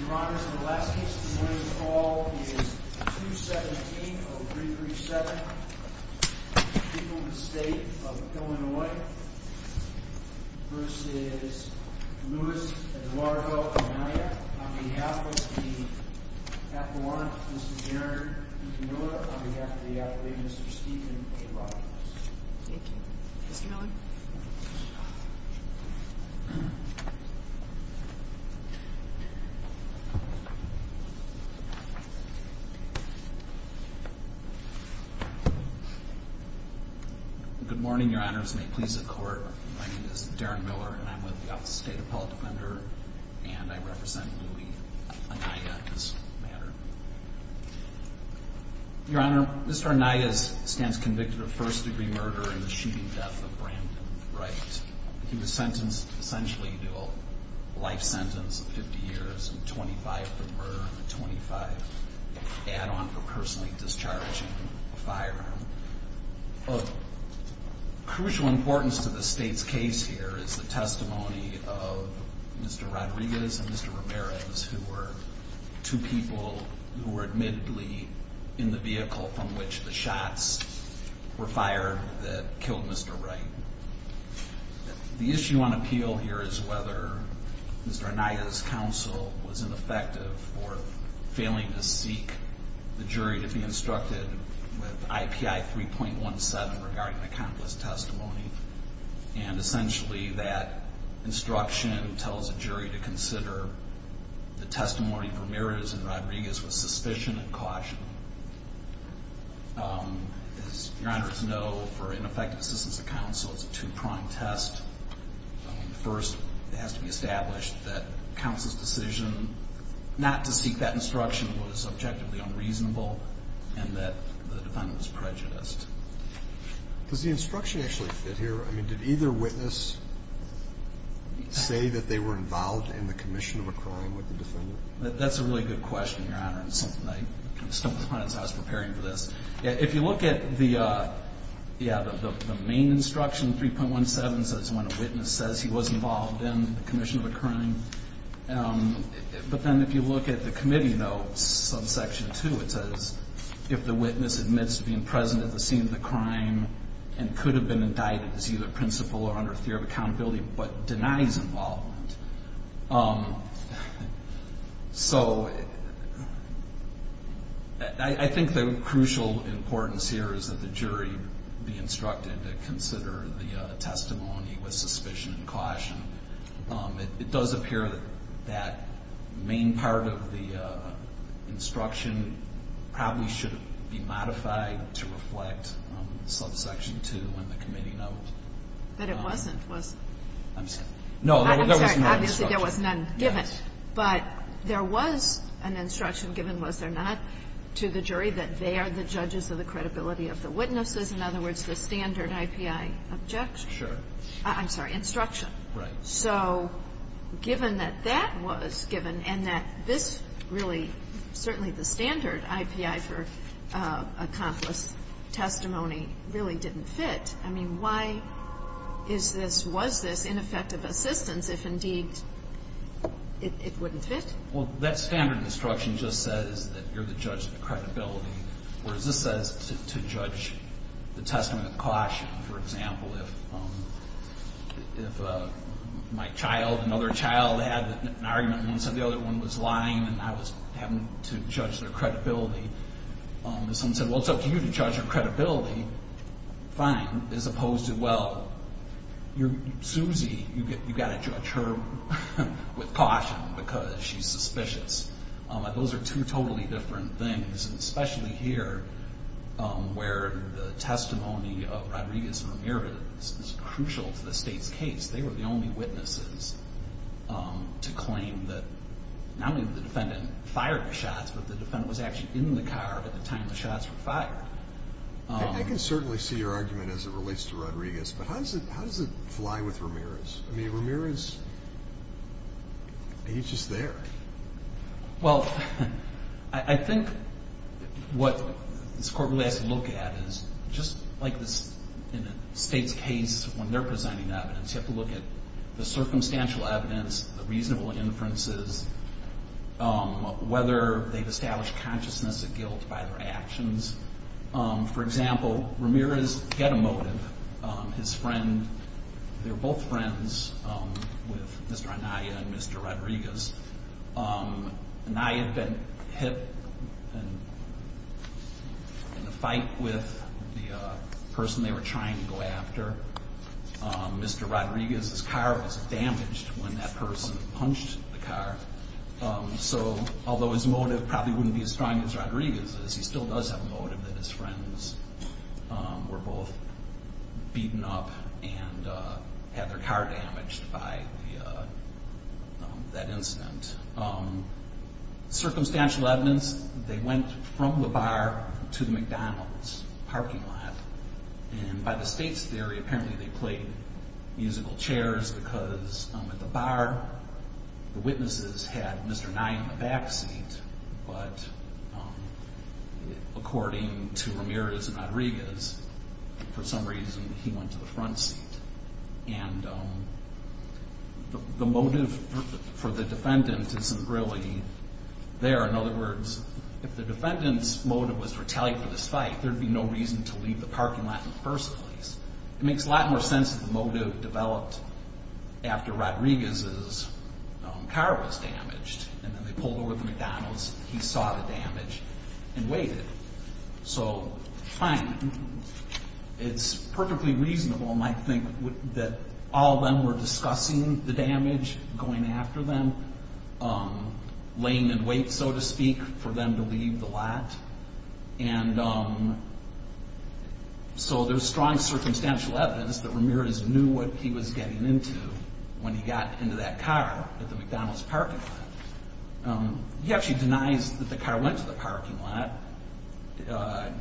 Your Honor, in the last case, this morning's call is 217-0337, Peopleton State of Illinois v. Luis Eduardo Anaya. On behalf of the appellant, Mr. Jared Iquanua. On behalf of the appellant, Mr. Stephen A. Robbins. Thank you. Mr. Miller. Good morning, Your Honors. May it please the Court, my name is Darren Miller and I'm with the Appellate Defender and I represent Luis Anaya in this matter. Your Honor, Mr. Anaya stands convicted of first degree murder in the shooting death of Brandon Wright. He was sentenced essentially to a life sentence of 50 years and 25 for murder and 25 add on for personally discharging a firearm. Of crucial importance to the state's case here is the testimony of Mr. Rodriguez and Mr. Ramirez who were two people who were admittedly in the vehicle from which the shots were fired that killed Mr. Wright. The issue on appeal here is whether Mr. Anaya's counsel was ineffective for failing to seek the jury to be instructed with IPI 3.17 regarding the countless testimony. And essentially that instruction tells the jury to consider the testimony of Ramirez and Rodriguez with suspicion and caution. As Your Honors know, for ineffective assistance of counsel, it's a two-pronged test. First, it has to be established that counsel's decision not to seek that instruction was objectively unreasonable and that the defendant was prejudiced. Does the instruction actually fit here? I mean, did either witness say that they were involved in the commission of a crime with the defendant? That's a really good question, Your Honor. It's something I stumbled upon as I was preparing for this. If you look at the main instruction, 3.17, it says when a witness says he was involved in the commission of a crime. But then if you look at the committee notes, subsection 2, it says if the witness admits to being present at the scene of the crime and could have been indicted as either principled or under a theory of accountability but denies involvement. So I think the crucial importance here is that the jury be instructed to consider the testimony with suspicion and caution. It does appear that that main part of the instruction probably should be modified to reflect subsection 2 in the committee note. But it wasn't, was it? I'm sorry. No, there was no instruction. I'm sorry. Obviously, there was none given. Yes. But there was an instruction given, was there not, to the jury that they are the judges of the credibility of the witnesses, in other words, the standard IPI objection? Sure. I'm sorry, instruction. Right. So given that that was given and that this really, certainly the standard IPI for accomplice testimony really didn't fit, I mean, why is this, was this ineffective assistance if indeed it wouldn't fit? Well, that standard instruction just says that you're the judge of the credibility. Whereas this says to judge the testimony with caution. For example, if my child, another child had an argument and one said the other one was lying and I was having to judge their credibility. If someone said, well, it's up to you to judge their credibility, fine, as opposed to, well, you're Susie, you've got to judge her with caution because she's suspicious. Those are two totally different things, especially here where the testimony of Rodriguez and Ramirez is crucial to the state's case. They were the only witnesses to claim that not only the defendant fired the shots, but the defendant was actually in the car at the time the shots were fired. I can certainly see your argument as it relates to Rodriguez, but how does it fly with Ramirez? I mean, Ramirez, he's just there. Well, I think what this Court really has to look at is just like in a state's case when they're presenting evidence, you have to look at the circumstantial evidence, the reasonable inferences, whether they've established consciousness of guilt by their actions. For example, Ramirez had a motive. His friend, they were both friends with Mr. Anaya and Mr. Rodriguez. Anaya had been hit in a fight with the person they were trying to go after. Mr. Rodriguez's car was damaged when that person punched the car. So although his motive probably wouldn't be as strong as Rodriguez's, he still does have a motive that his friends were both beaten up and had their car damaged by that incident. Circumstantial evidence, they went from the bar to the McDonald's parking lot. And by the state's theory, apparently they played musical chairs because at the bar, the witnesses had Mr. Anaya in the back seat, but according to Ramirez and Rodriguez, for some reason, he went to the front seat. And the motive for the defendant isn't really there. In other words, if the defendant's motive was to retaliate for this fight, there'd be no reason to leave the parking lot in the first place. It makes a lot more sense that the motive developed after Rodriguez's car was damaged. And then they pulled over at the McDonald's. He saw the damage and waited. So, fine, it's perfectly reasonable, I think, that all of them were discussing the damage, going after them, laying in wait, so to speak, for them to leave the lot. And so there's strong circumstantial evidence that Ramirez knew what he was getting into when he got into that car at the McDonald's parking lot. He actually denies that the car went to the parking lot.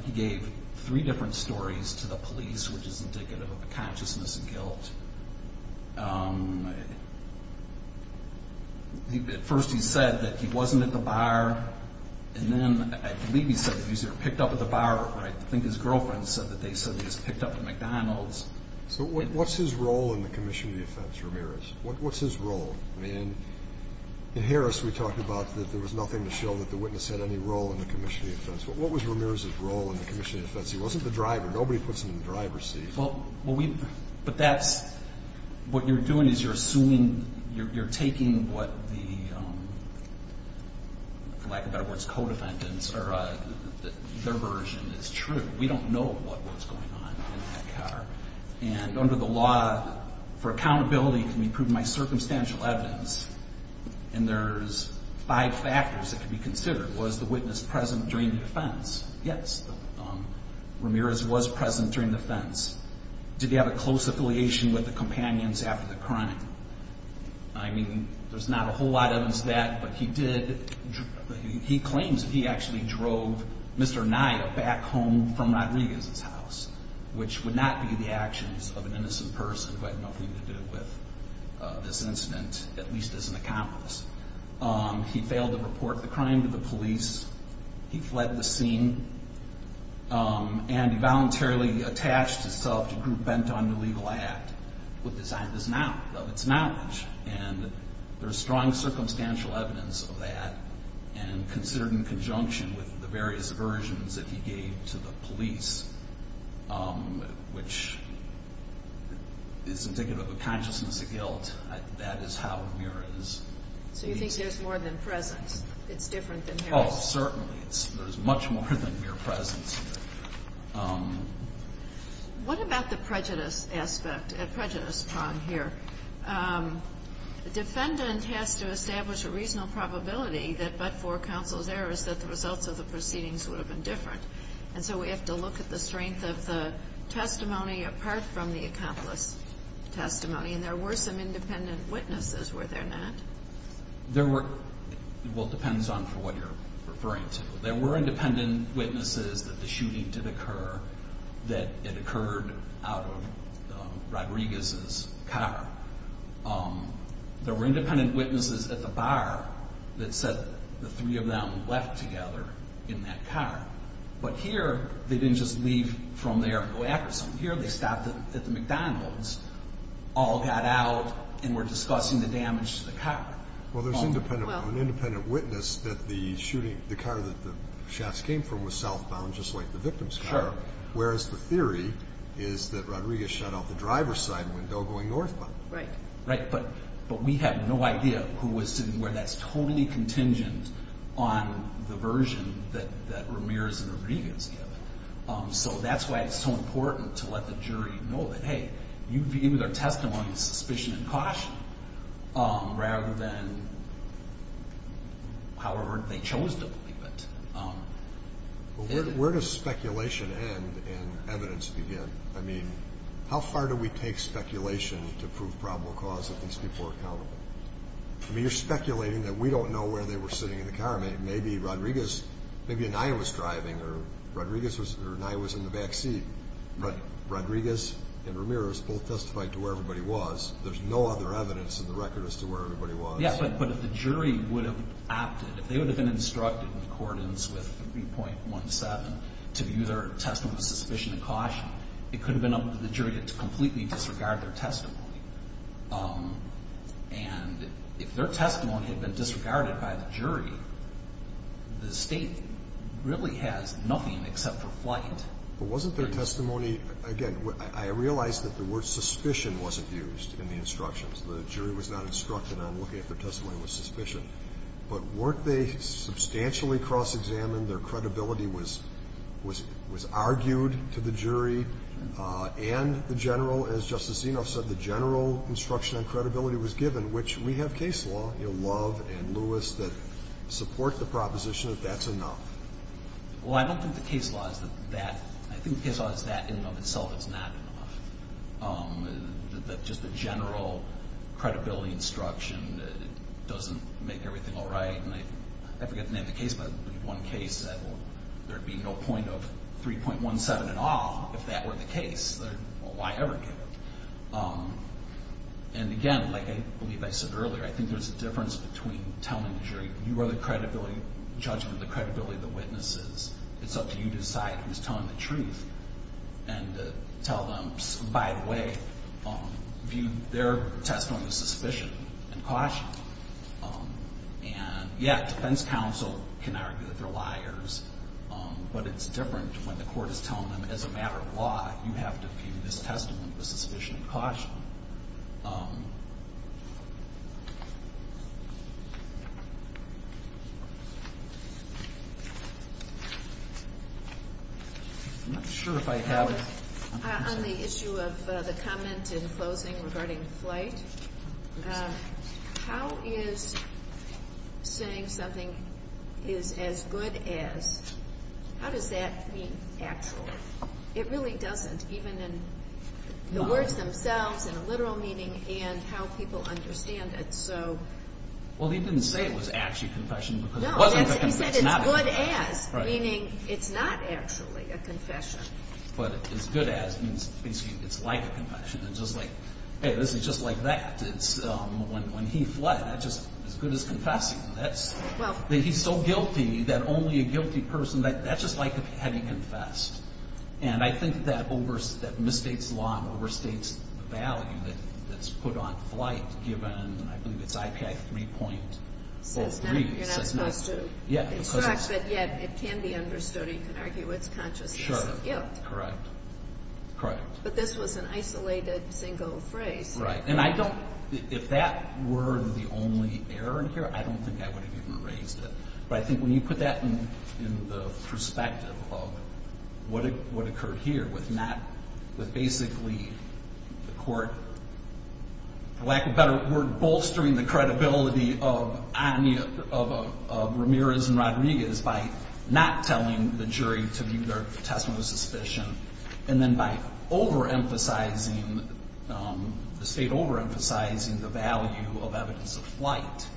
He gave three different stories to the police, which is indicative of a consciousness of guilt. At first he said that he wasn't at the bar, and then I believe he said that he was either picked up at the bar, or I think his girlfriend said that they said he was picked up at McDonald's. So what's his role in the commission of the offense, Ramirez? What's his role? I mean, in Harris we talked about that there was nothing to show that the witness had any role in the commission of the offense. But what was Ramirez's role in the commission of the offense? He wasn't the driver. Nobody puts him in the driver's seat. But that's what you're doing is you're assuming, you're taking what the, for lack of better words, co-defendants, or their version is true. We don't know what was going on in that car. And under the law, for accountability can be proven by circumstantial evidence, and there's five factors that can be considered. Was the witness present during the offense? Yes, Ramirez was present during the offense. Did he have a close affiliation with the companions after the crime? I mean, there's not a whole lot of that, but he did, he claims that he actually drove Mr. Anaya back home from Rodriguez's house, which would not be the actions of an innocent person who had nothing to do with this incident, at least as an accomplice. He failed to report the crime to the police. He fled the scene, and he voluntarily attached himself to a group bent on an illegal act, which designed of its knowledge, and there's strong circumstantial evidence of that, and considered in conjunction with the various versions that he gave to the police, which is indicative of a consciousness of guilt. That is how Ramirez. So you think there's more than presence? It's different than Harris? Oh, certainly. There's much more than mere presence. What about the prejudice aspect, prejudice prong here? The defendant has to establish a reasonable probability that but for counsel's errors that the results of the proceedings would have been different, and so we have to look at the strength of the testimony apart from the accomplice testimony, and there were some independent witnesses, were there not? Well, it depends on what you're referring to. There were independent witnesses that the shooting did occur, that it occurred out of Rodriguez's car. There were independent witnesses at the bar that said the three of them left together in that car, but here they didn't just leave from there and go after someone. Here they stopped at the McDonald's, all got out, and were discussing the damage to the car. Well, there's an independent witness that the car that the shafts came from was southbound just like the victim's car, whereas the theory is that Rodriguez shot out the driver's side window going northbound. Right, but we have no idea who was sitting where. That's totally contingent on the version that Ramirez and Rodriguez give. So that's why it's so important to let the jury know that, hey, you begin with our testimony in suspicion and caution rather than however they chose to believe it. Well, where does speculation end and evidence begin? I mean, how far do we take speculation to prove probable cause if these people are accountable? I mean, you're speculating that we don't know where they were sitting in the car. Maybe Anaya was driving or Anaya was in the back seat, but Rodriguez and Ramirez both testified to where everybody was. There's no other evidence in the record as to where everybody was. Yeah, but if the jury would have opted, if they would have been instructed in accordance with 3.17 to view their testimony with suspicion and caution, it could have been up to the jury to completely disregard their testimony. And if their testimony had been disregarded by the jury, the State really has nothing except for flight. But wasn't their testimony, again, I realize that the word suspicion wasn't used in the instructions. The jury was not instructed on looking at their testimony with suspicion. But weren't they substantially cross-examined, their credibility was argued to the jury, and the general, as Justice Zinoff said, the general instruction on credibility was given, which we have case law, you know, Love and Lewis, that support the proposition that that's enough. Well, I don't think the case law is that. I think the case law is that in and of itself is not enough, that just the general credibility instruction doesn't make everything all right. And I forget the name of the case, but one case that there would be no point of 3.17 at all if that were the case, why ever give it? And again, like I believe I said earlier, I think there's a difference between telling the jury, you are the judgment, the credibility of the witnesses. It's up to you to decide who's telling the truth and to tell them, by the way, view their testimony with suspicion and caution. And, yeah, defense counsel can argue that they're liars, but it's different when the court is telling them, as a matter of law, you have to view this testimony with suspicion and caution. I'm not sure if I have it. On the issue of the comment in closing regarding flight, how is saying something is as good as, how does that mean actual? It really doesn't, even in the words themselves and the literal meaning and how people understand it. Well, he didn't say it was actually a confession. No, he said it's good as, meaning it's not actually a confession. It's just like, hey, this is just like that. When he fled, that's just as good as confessing. He's so guilty that only a guilty person, that's just like having confessed. And I think that overstates the law and overstates the value that's put on flight, given, I believe it's IPI 3.03. You're not supposed to instruct, but, yeah, it can be understood. You can argue it's consciousness of guilt. Correct. Correct. But this was an isolated single phrase. Right. And I don't, if that were the only error here, I don't think I would have even raised it. But I think when you put that in the perspective of what occurred here with not, with basically the court, for lack of a better word, bolstering the credibility of Ramirez and Rodriguez by not telling the jury to view their testimony with suspicion, and then by overemphasizing, the state overemphasizing the value of evidence of flight,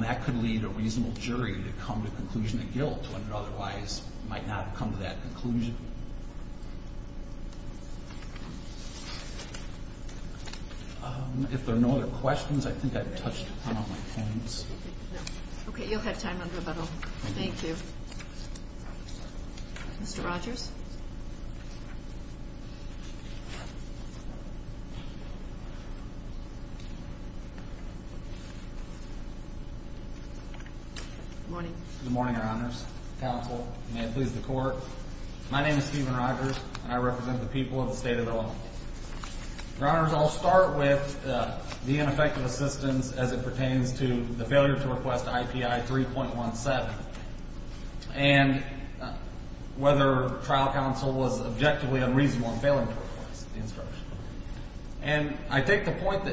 that could lead a reasonable jury to come to the conclusion of guilt when it otherwise might not have come to that conclusion. If there are no other questions, I think I've touched upon all my points. Okay. You'll have time under a bottle. Thank you. Mr. Rogers. Good morning. Good morning, Your Honors. Counsel, may it please the Court. My name is Stephen Rogers, and I represent the people of the state of Illinois. Your Honors, I'll start with the ineffective assistance as it pertains to the failure to request IPI 3.17 and whether trial counsel was objectively unreasonable in failing to request the instruction. And I take the point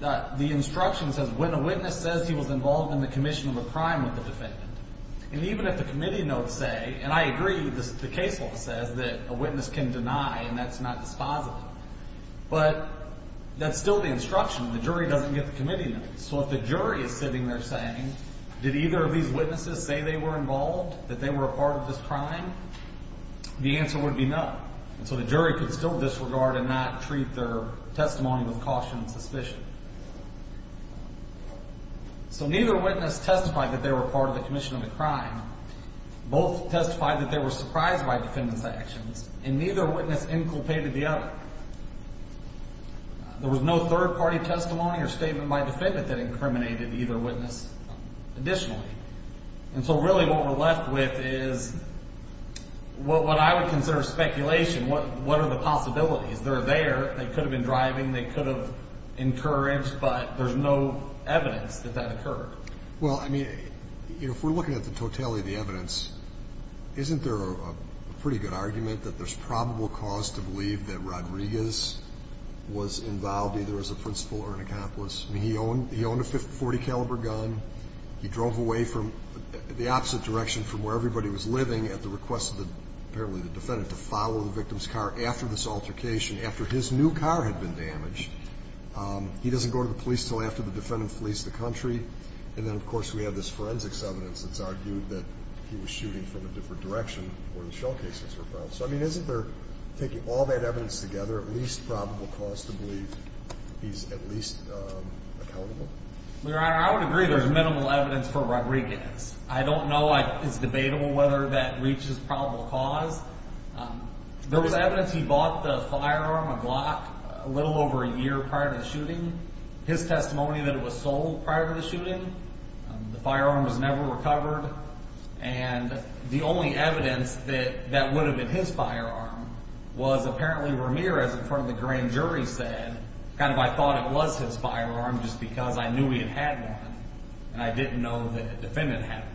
that the instruction says, when a witness says he was involved in the commission of a crime with the defendant, and even if the committee notes say, and I agree, the case law says that a witness can deny, and that's not dispositive. But that's still the instruction. The jury doesn't get the committee notes. So if the jury is sitting there saying, did either of these witnesses say they were involved, that they were a part of this crime, the answer would be no. And so the jury could still disregard and not treat their testimony with caution and suspicion. So neither witness testified that they were a part of the commission of the crime. Both testified that they were surprised by defendant's actions. And neither witness inculpated the other. There was no third-party testimony or statement by defendant that incriminated either witness additionally. And so really what we're left with is what I would consider speculation. What are the possibilities? They're there. They could have been driving. They could have encouraged, but there's no evidence that that occurred. Well, I mean, if we're looking at the totality of the evidence, isn't there a pretty good argument that there's probable cause to believe that Rodriguez was involved either as a principal or an accomplice? I mean, he owned a .40-caliber gun. He drove away from the opposite direction from where everybody was living at the request of apparently the defendant to follow the victim's car after this altercation, after his new car had been damaged. He doesn't go to the police until after the defendant flees the country. And then, of course, we have this forensics evidence that's argued that he was shooting from a different direction where the shell casings were found. So, I mean, isn't there, taking all that evidence together, at least probable cause to believe he's at least accountable? Your Honor, I would agree there's minimal evidence for Rodriguez. I don't know if it's debatable whether that reaches probable cause. There was evidence he bought the firearm, a Glock, a little over a year prior to the shooting. His testimony that it was sold prior to the shooting. The firearm was never recovered. And the only evidence that that would have been his firearm was apparently Ramirez in front of the grand jury said, kind of, I thought it was his firearm just because I knew he had had one, and I didn't know that the defendant had one.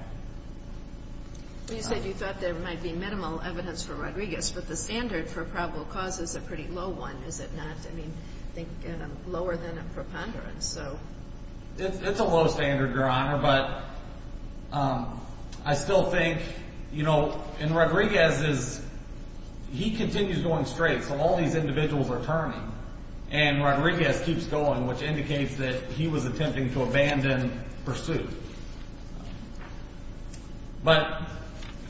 You said you thought there might be minimal evidence for Rodriguez, but the standard for probable cause is a pretty low one, is it not? I mean, I think lower than a preponderance, so. It's a low standard, Your Honor, but I still think, you know, and Rodriguez is, he continues going straight, so all these individuals are turning. And Rodriguez keeps going, which indicates that he was attempting to abandon pursuit. But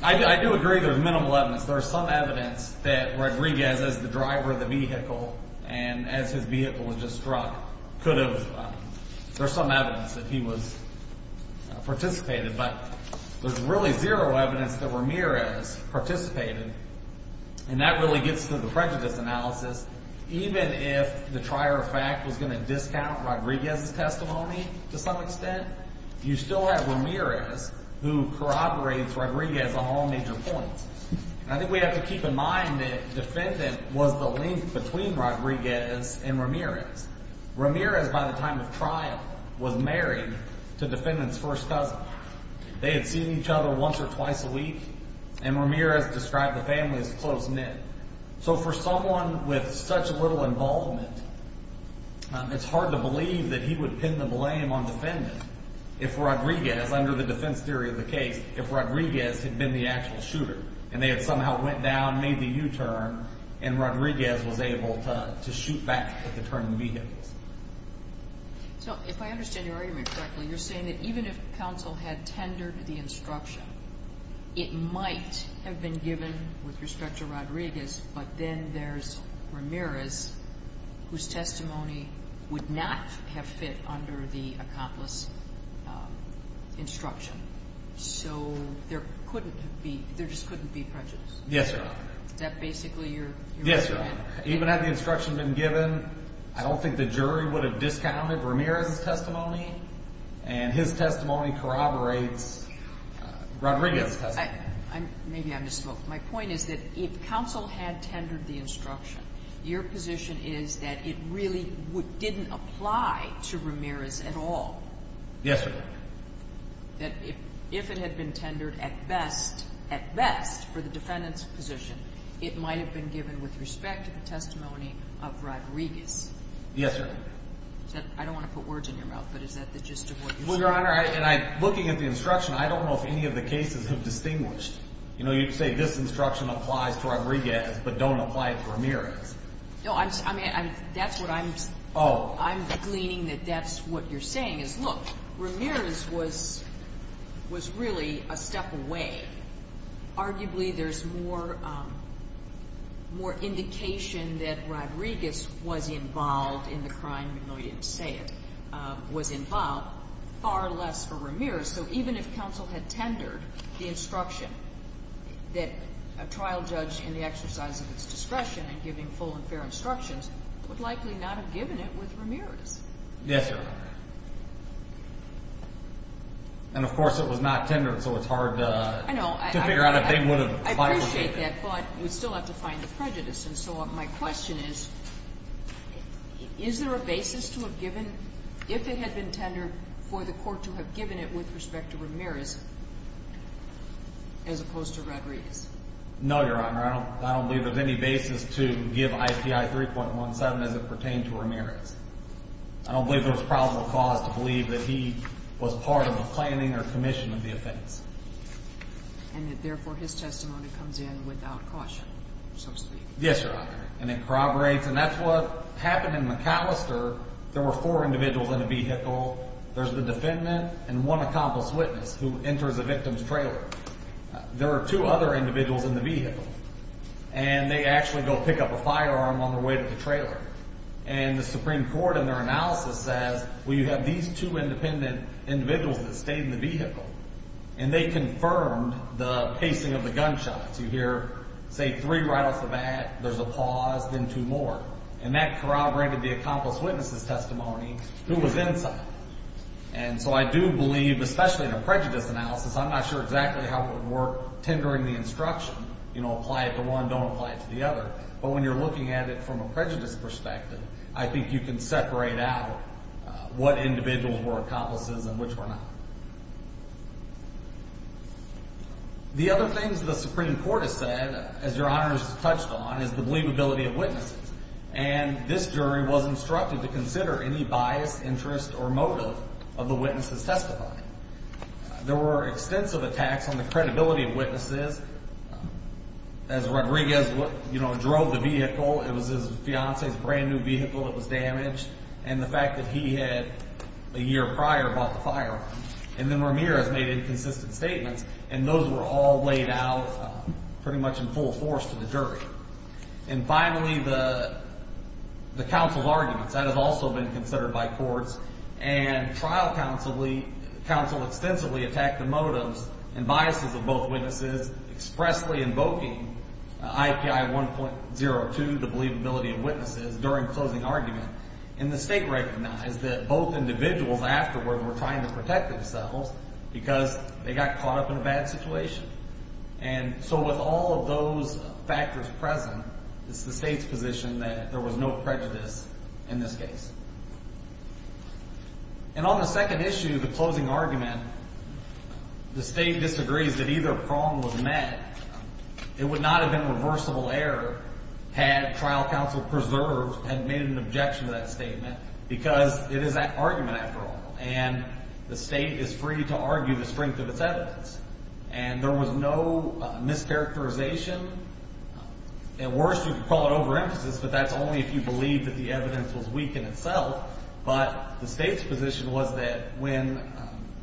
I do agree there's minimal evidence. There's some evidence that Rodriguez, as the driver of the vehicle and as his vehicle was just struck, could have, there's some evidence that he was, participated. But there's really zero evidence that Ramirez participated, and that really gets to the prejudice analysis. Even if the trier of fact was going to discount Rodriguez's testimony to some extent, you still have Ramirez who corroborates Rodriguez on all major points. And I think we have to keep in mind that defendant was the link between Rodriguez and Ramirez. Ramirez, by the time of trial, was married to defendant's first cousin. They had seen each other once or twice a week, and Ramirez described the family as close-knit. So for someone with such little involvement, it's hard to believe that he would pin the blame on defendant if Rodriguez, under the defense theory of the case, if Rodriguez had been the actual shooter, and they had somehow went down, made the U-turn, and Rodriguez was able to shoot back at the turning vehicles. So if I understand your argument correctly, you're saying that even if counsel had tendered the instruction, it might have been given with respect to Rodriguez, but then there's Ramirez, whose testimony would not have fit under the accomplice instruction. So there just couldn't be prejudice? Yes, Your Honor. Is that basically your argument? Yes, Your Honor. Even had the instruction been given, I don't think the jury would have discounted Ramirez's testimony, and his testimony corroborates Rodriguez's testimony. Maybe I misspoke. My point is that if counsel had tendered the instruction, your position is that it really didn't apply to Ramirez at all. Yes, Your Honor. That if it had been tendered at best for the defendant's position, it might have been given with respect to the testimony of Rodriguez. Yes, Your Honor. I don't want to put words in your mouth, but is that the gist of what you're saying? Well, Your Honor, looking at the instruction, I don't know if any of the cases have distinguished. You know, you say this instruction applies to Rodriguez, but don't apply it to Ramirez. No, I mean, that's what I'm gleaning that that's what you're saying is, look, Ramirez was really a step away. Arguably, there's more indication that Rodriguez was involved in the crime, even though you didn't say it, was involved, far less for Ramirez. So even if counsel had tendered the instruction that a trial judge, in the exercise of its discretion in giving full and fair instructions, would likely not have given it with Ramirez. Yes, Your Honor. And, of course, it was not tendered, so it's hard to figure out if they would have likely given it. I know. I appreciate that, but we still have to find the prejudice. And so my question is, is there a basis to have given, if it had been tendered, for the court to have given it with respect to Ramirez, as opposed to Rodriguez? No, Your Honor. I don't believe there's any basis to give IPI 3.17 as it pertained to Ramirez. I don't believe there was probable cause to believe that he was part of the planning or commission of the offense. And that, therefore, his testimony comes in without caution, so to speak. Yes, Your Honor. And it corroborates, and that's what happened in McAllister. There were four individuals in a vehicle. There's the defendant and one accomplice witness who enters the victim's trailer. There are two other individuals in the vehicle, and they actually go pick up a firearm on their way to the trailer. And the Supreme Court, in their analysis, says, well, you have these two independent individuals that stayed in the vehicle, and they confirmed the pacing of the gunshots. You hear, say, three right off the bat, there's a pause, then two more. And that corroborated the accomplice witness's testimony, who was inside. And so I do believe, especially in a prejudice analysis, I'm not sure exactly how it would work tendering the instruction, you know, apply it to one, don't apply it to the other. But when you're looking at it from a prejudice perspective, I think you can separate out what individuals were accomplices and which were not. The other things the Supreme Court has said, as Your Honor has touched on, is the believability of witnesses. And this jury was instructed to consider any bias, interest, or motive of the witnesses testifying. There were extensive attacks on the credibility of witnesses. As Rodriguez drove the vehicle, it was his fiancée's brand-new vehicle that was damaged, and the fact that he had, a year prior, bought the firearm. And then Ramirez made inconsistent statements, and those were all laid out pretty much in full force to the jury. And finally, the counsel's arguments. That has also been considered by courts. And trial counsel extensively attacked the motives and biases of both witnesses, expressly invoking IPI 1.02, the believability of witnesses, during the closing argument. And the State recognized that both individuals afterward were trying to protect themselves because they got caught up in a bad situation. And so with all of those factors present, it's the State's position that there was no prejudice in this case. And on the second issue, the closing argument, the State disagrees that either prong was met. It would not have been reversible error had trial counsel preserved and made an objection to that statement because it is that argument, after all. And the State is free to argue the strength of its evidence. And there was no mischaracterization. At worst, you could call it overemphasis, but that's only if you believe that the evidence was weak in itself. But the State's position was that when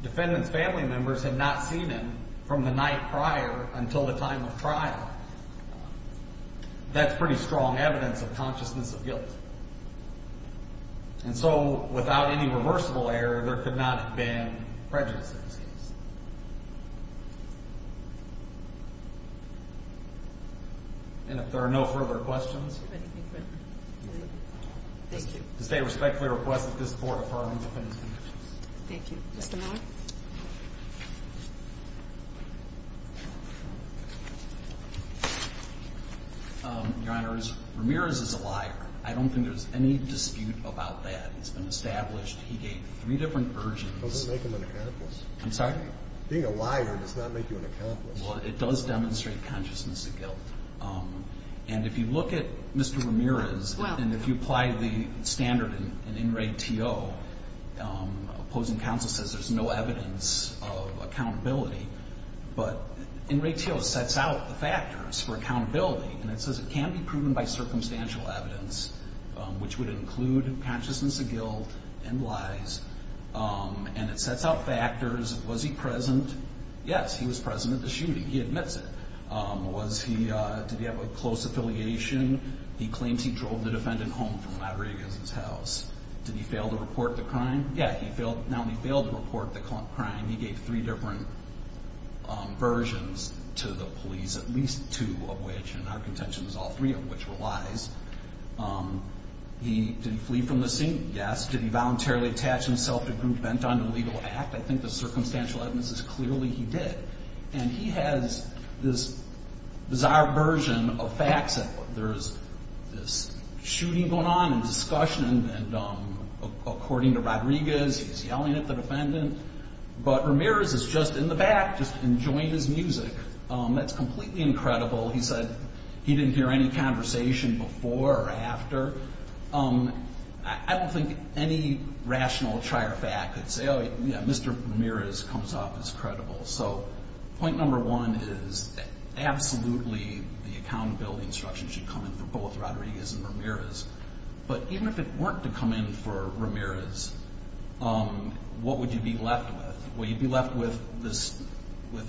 defendants' family members had not seen him from the night prior until the time of trial, that's pretty strong evidence of consciousness of guilt. And so without any reversible error, there could not have been prejudice in this case. And if there are no further questions... Do you have anything for me? Thank you. The State respectfully requests that this Court affirm the defendants' convictions. Thank you. Mr. Miller? Your Honor, Ramirez is a liar. I don't think there's any dispute about that. It's been established he gave three different urges. It doesn't make him an accomplice. I'm sorry? Being a liar does not make you an accomplice. Well, it does demonstrate consciousness of guilt. And if you look at Mr. Ramirez and if you apply the standard in In Re To, opposing counsel says there's no evidence of accountability. But In Re To sets out the factors for accountability. And it says it can be proven by circumstantial evidence, which would include consciousness of guilt and lies. And it sets out factors. Was he present? Yes, he was present at the shooting. He admits it. Did he have a close affiliation? He claims he drove the defendant home from Rodriguez's house. Did he fail to report the crime? Yeah, he not only failed to report the crime, he gave three different versions to the police, at least two of which in our contention was all three of which were lies. Did he flee from the scene? Yes. Did he voluntarily attach himself to a group bent on an illegal act? I think the circumstantial evidence is clearly he did. And he has this bizarre version of facts. He said there's this shooting going on and discussion. And according to Rodriguez, he's yelling at the defendant. But Ramirez is just in the back just enjoying his music. That's completely incredible. He said he didn't hear any conversation before or after. I don't think any rational trier of fact could say, oh, yeah, Mr. Ramirez comes off as credible. So point number one is absolutely the accountability instruction should come in for both Rodriguez and Ramirez. But even if it weren't to come in for Ramirez, what would you be left with? Well, you'd be left with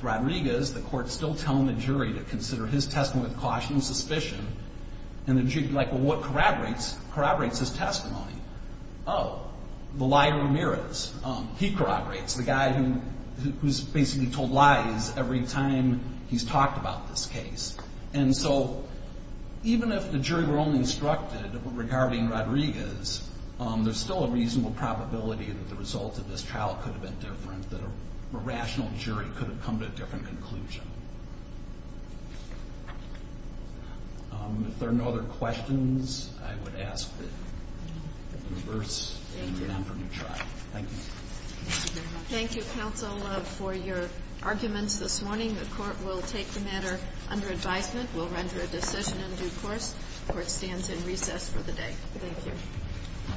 Rodriguez. The court's still telling the jury to consider his testimony with caution and suspicion. And the jury would be like, well, what corroborates his testimony? Oh, the liar Ramirez. He corroborates. The guy who's basically told lies every time he's talked about this case. And so even if the jury were only instructed regarding Rodriguez, there's still a reasonable probability that the result of this trial could have been different, that a rational jury could have come to a different conclusion. If there are no other questions, I would ask that you reverse and remember to try. Thank you. Thank you very much. Thank you, counsel, for your arguments this morning. The court will take the matter under advisement. We'll render a decision in due course. The court stands in recess for the day. Thank you.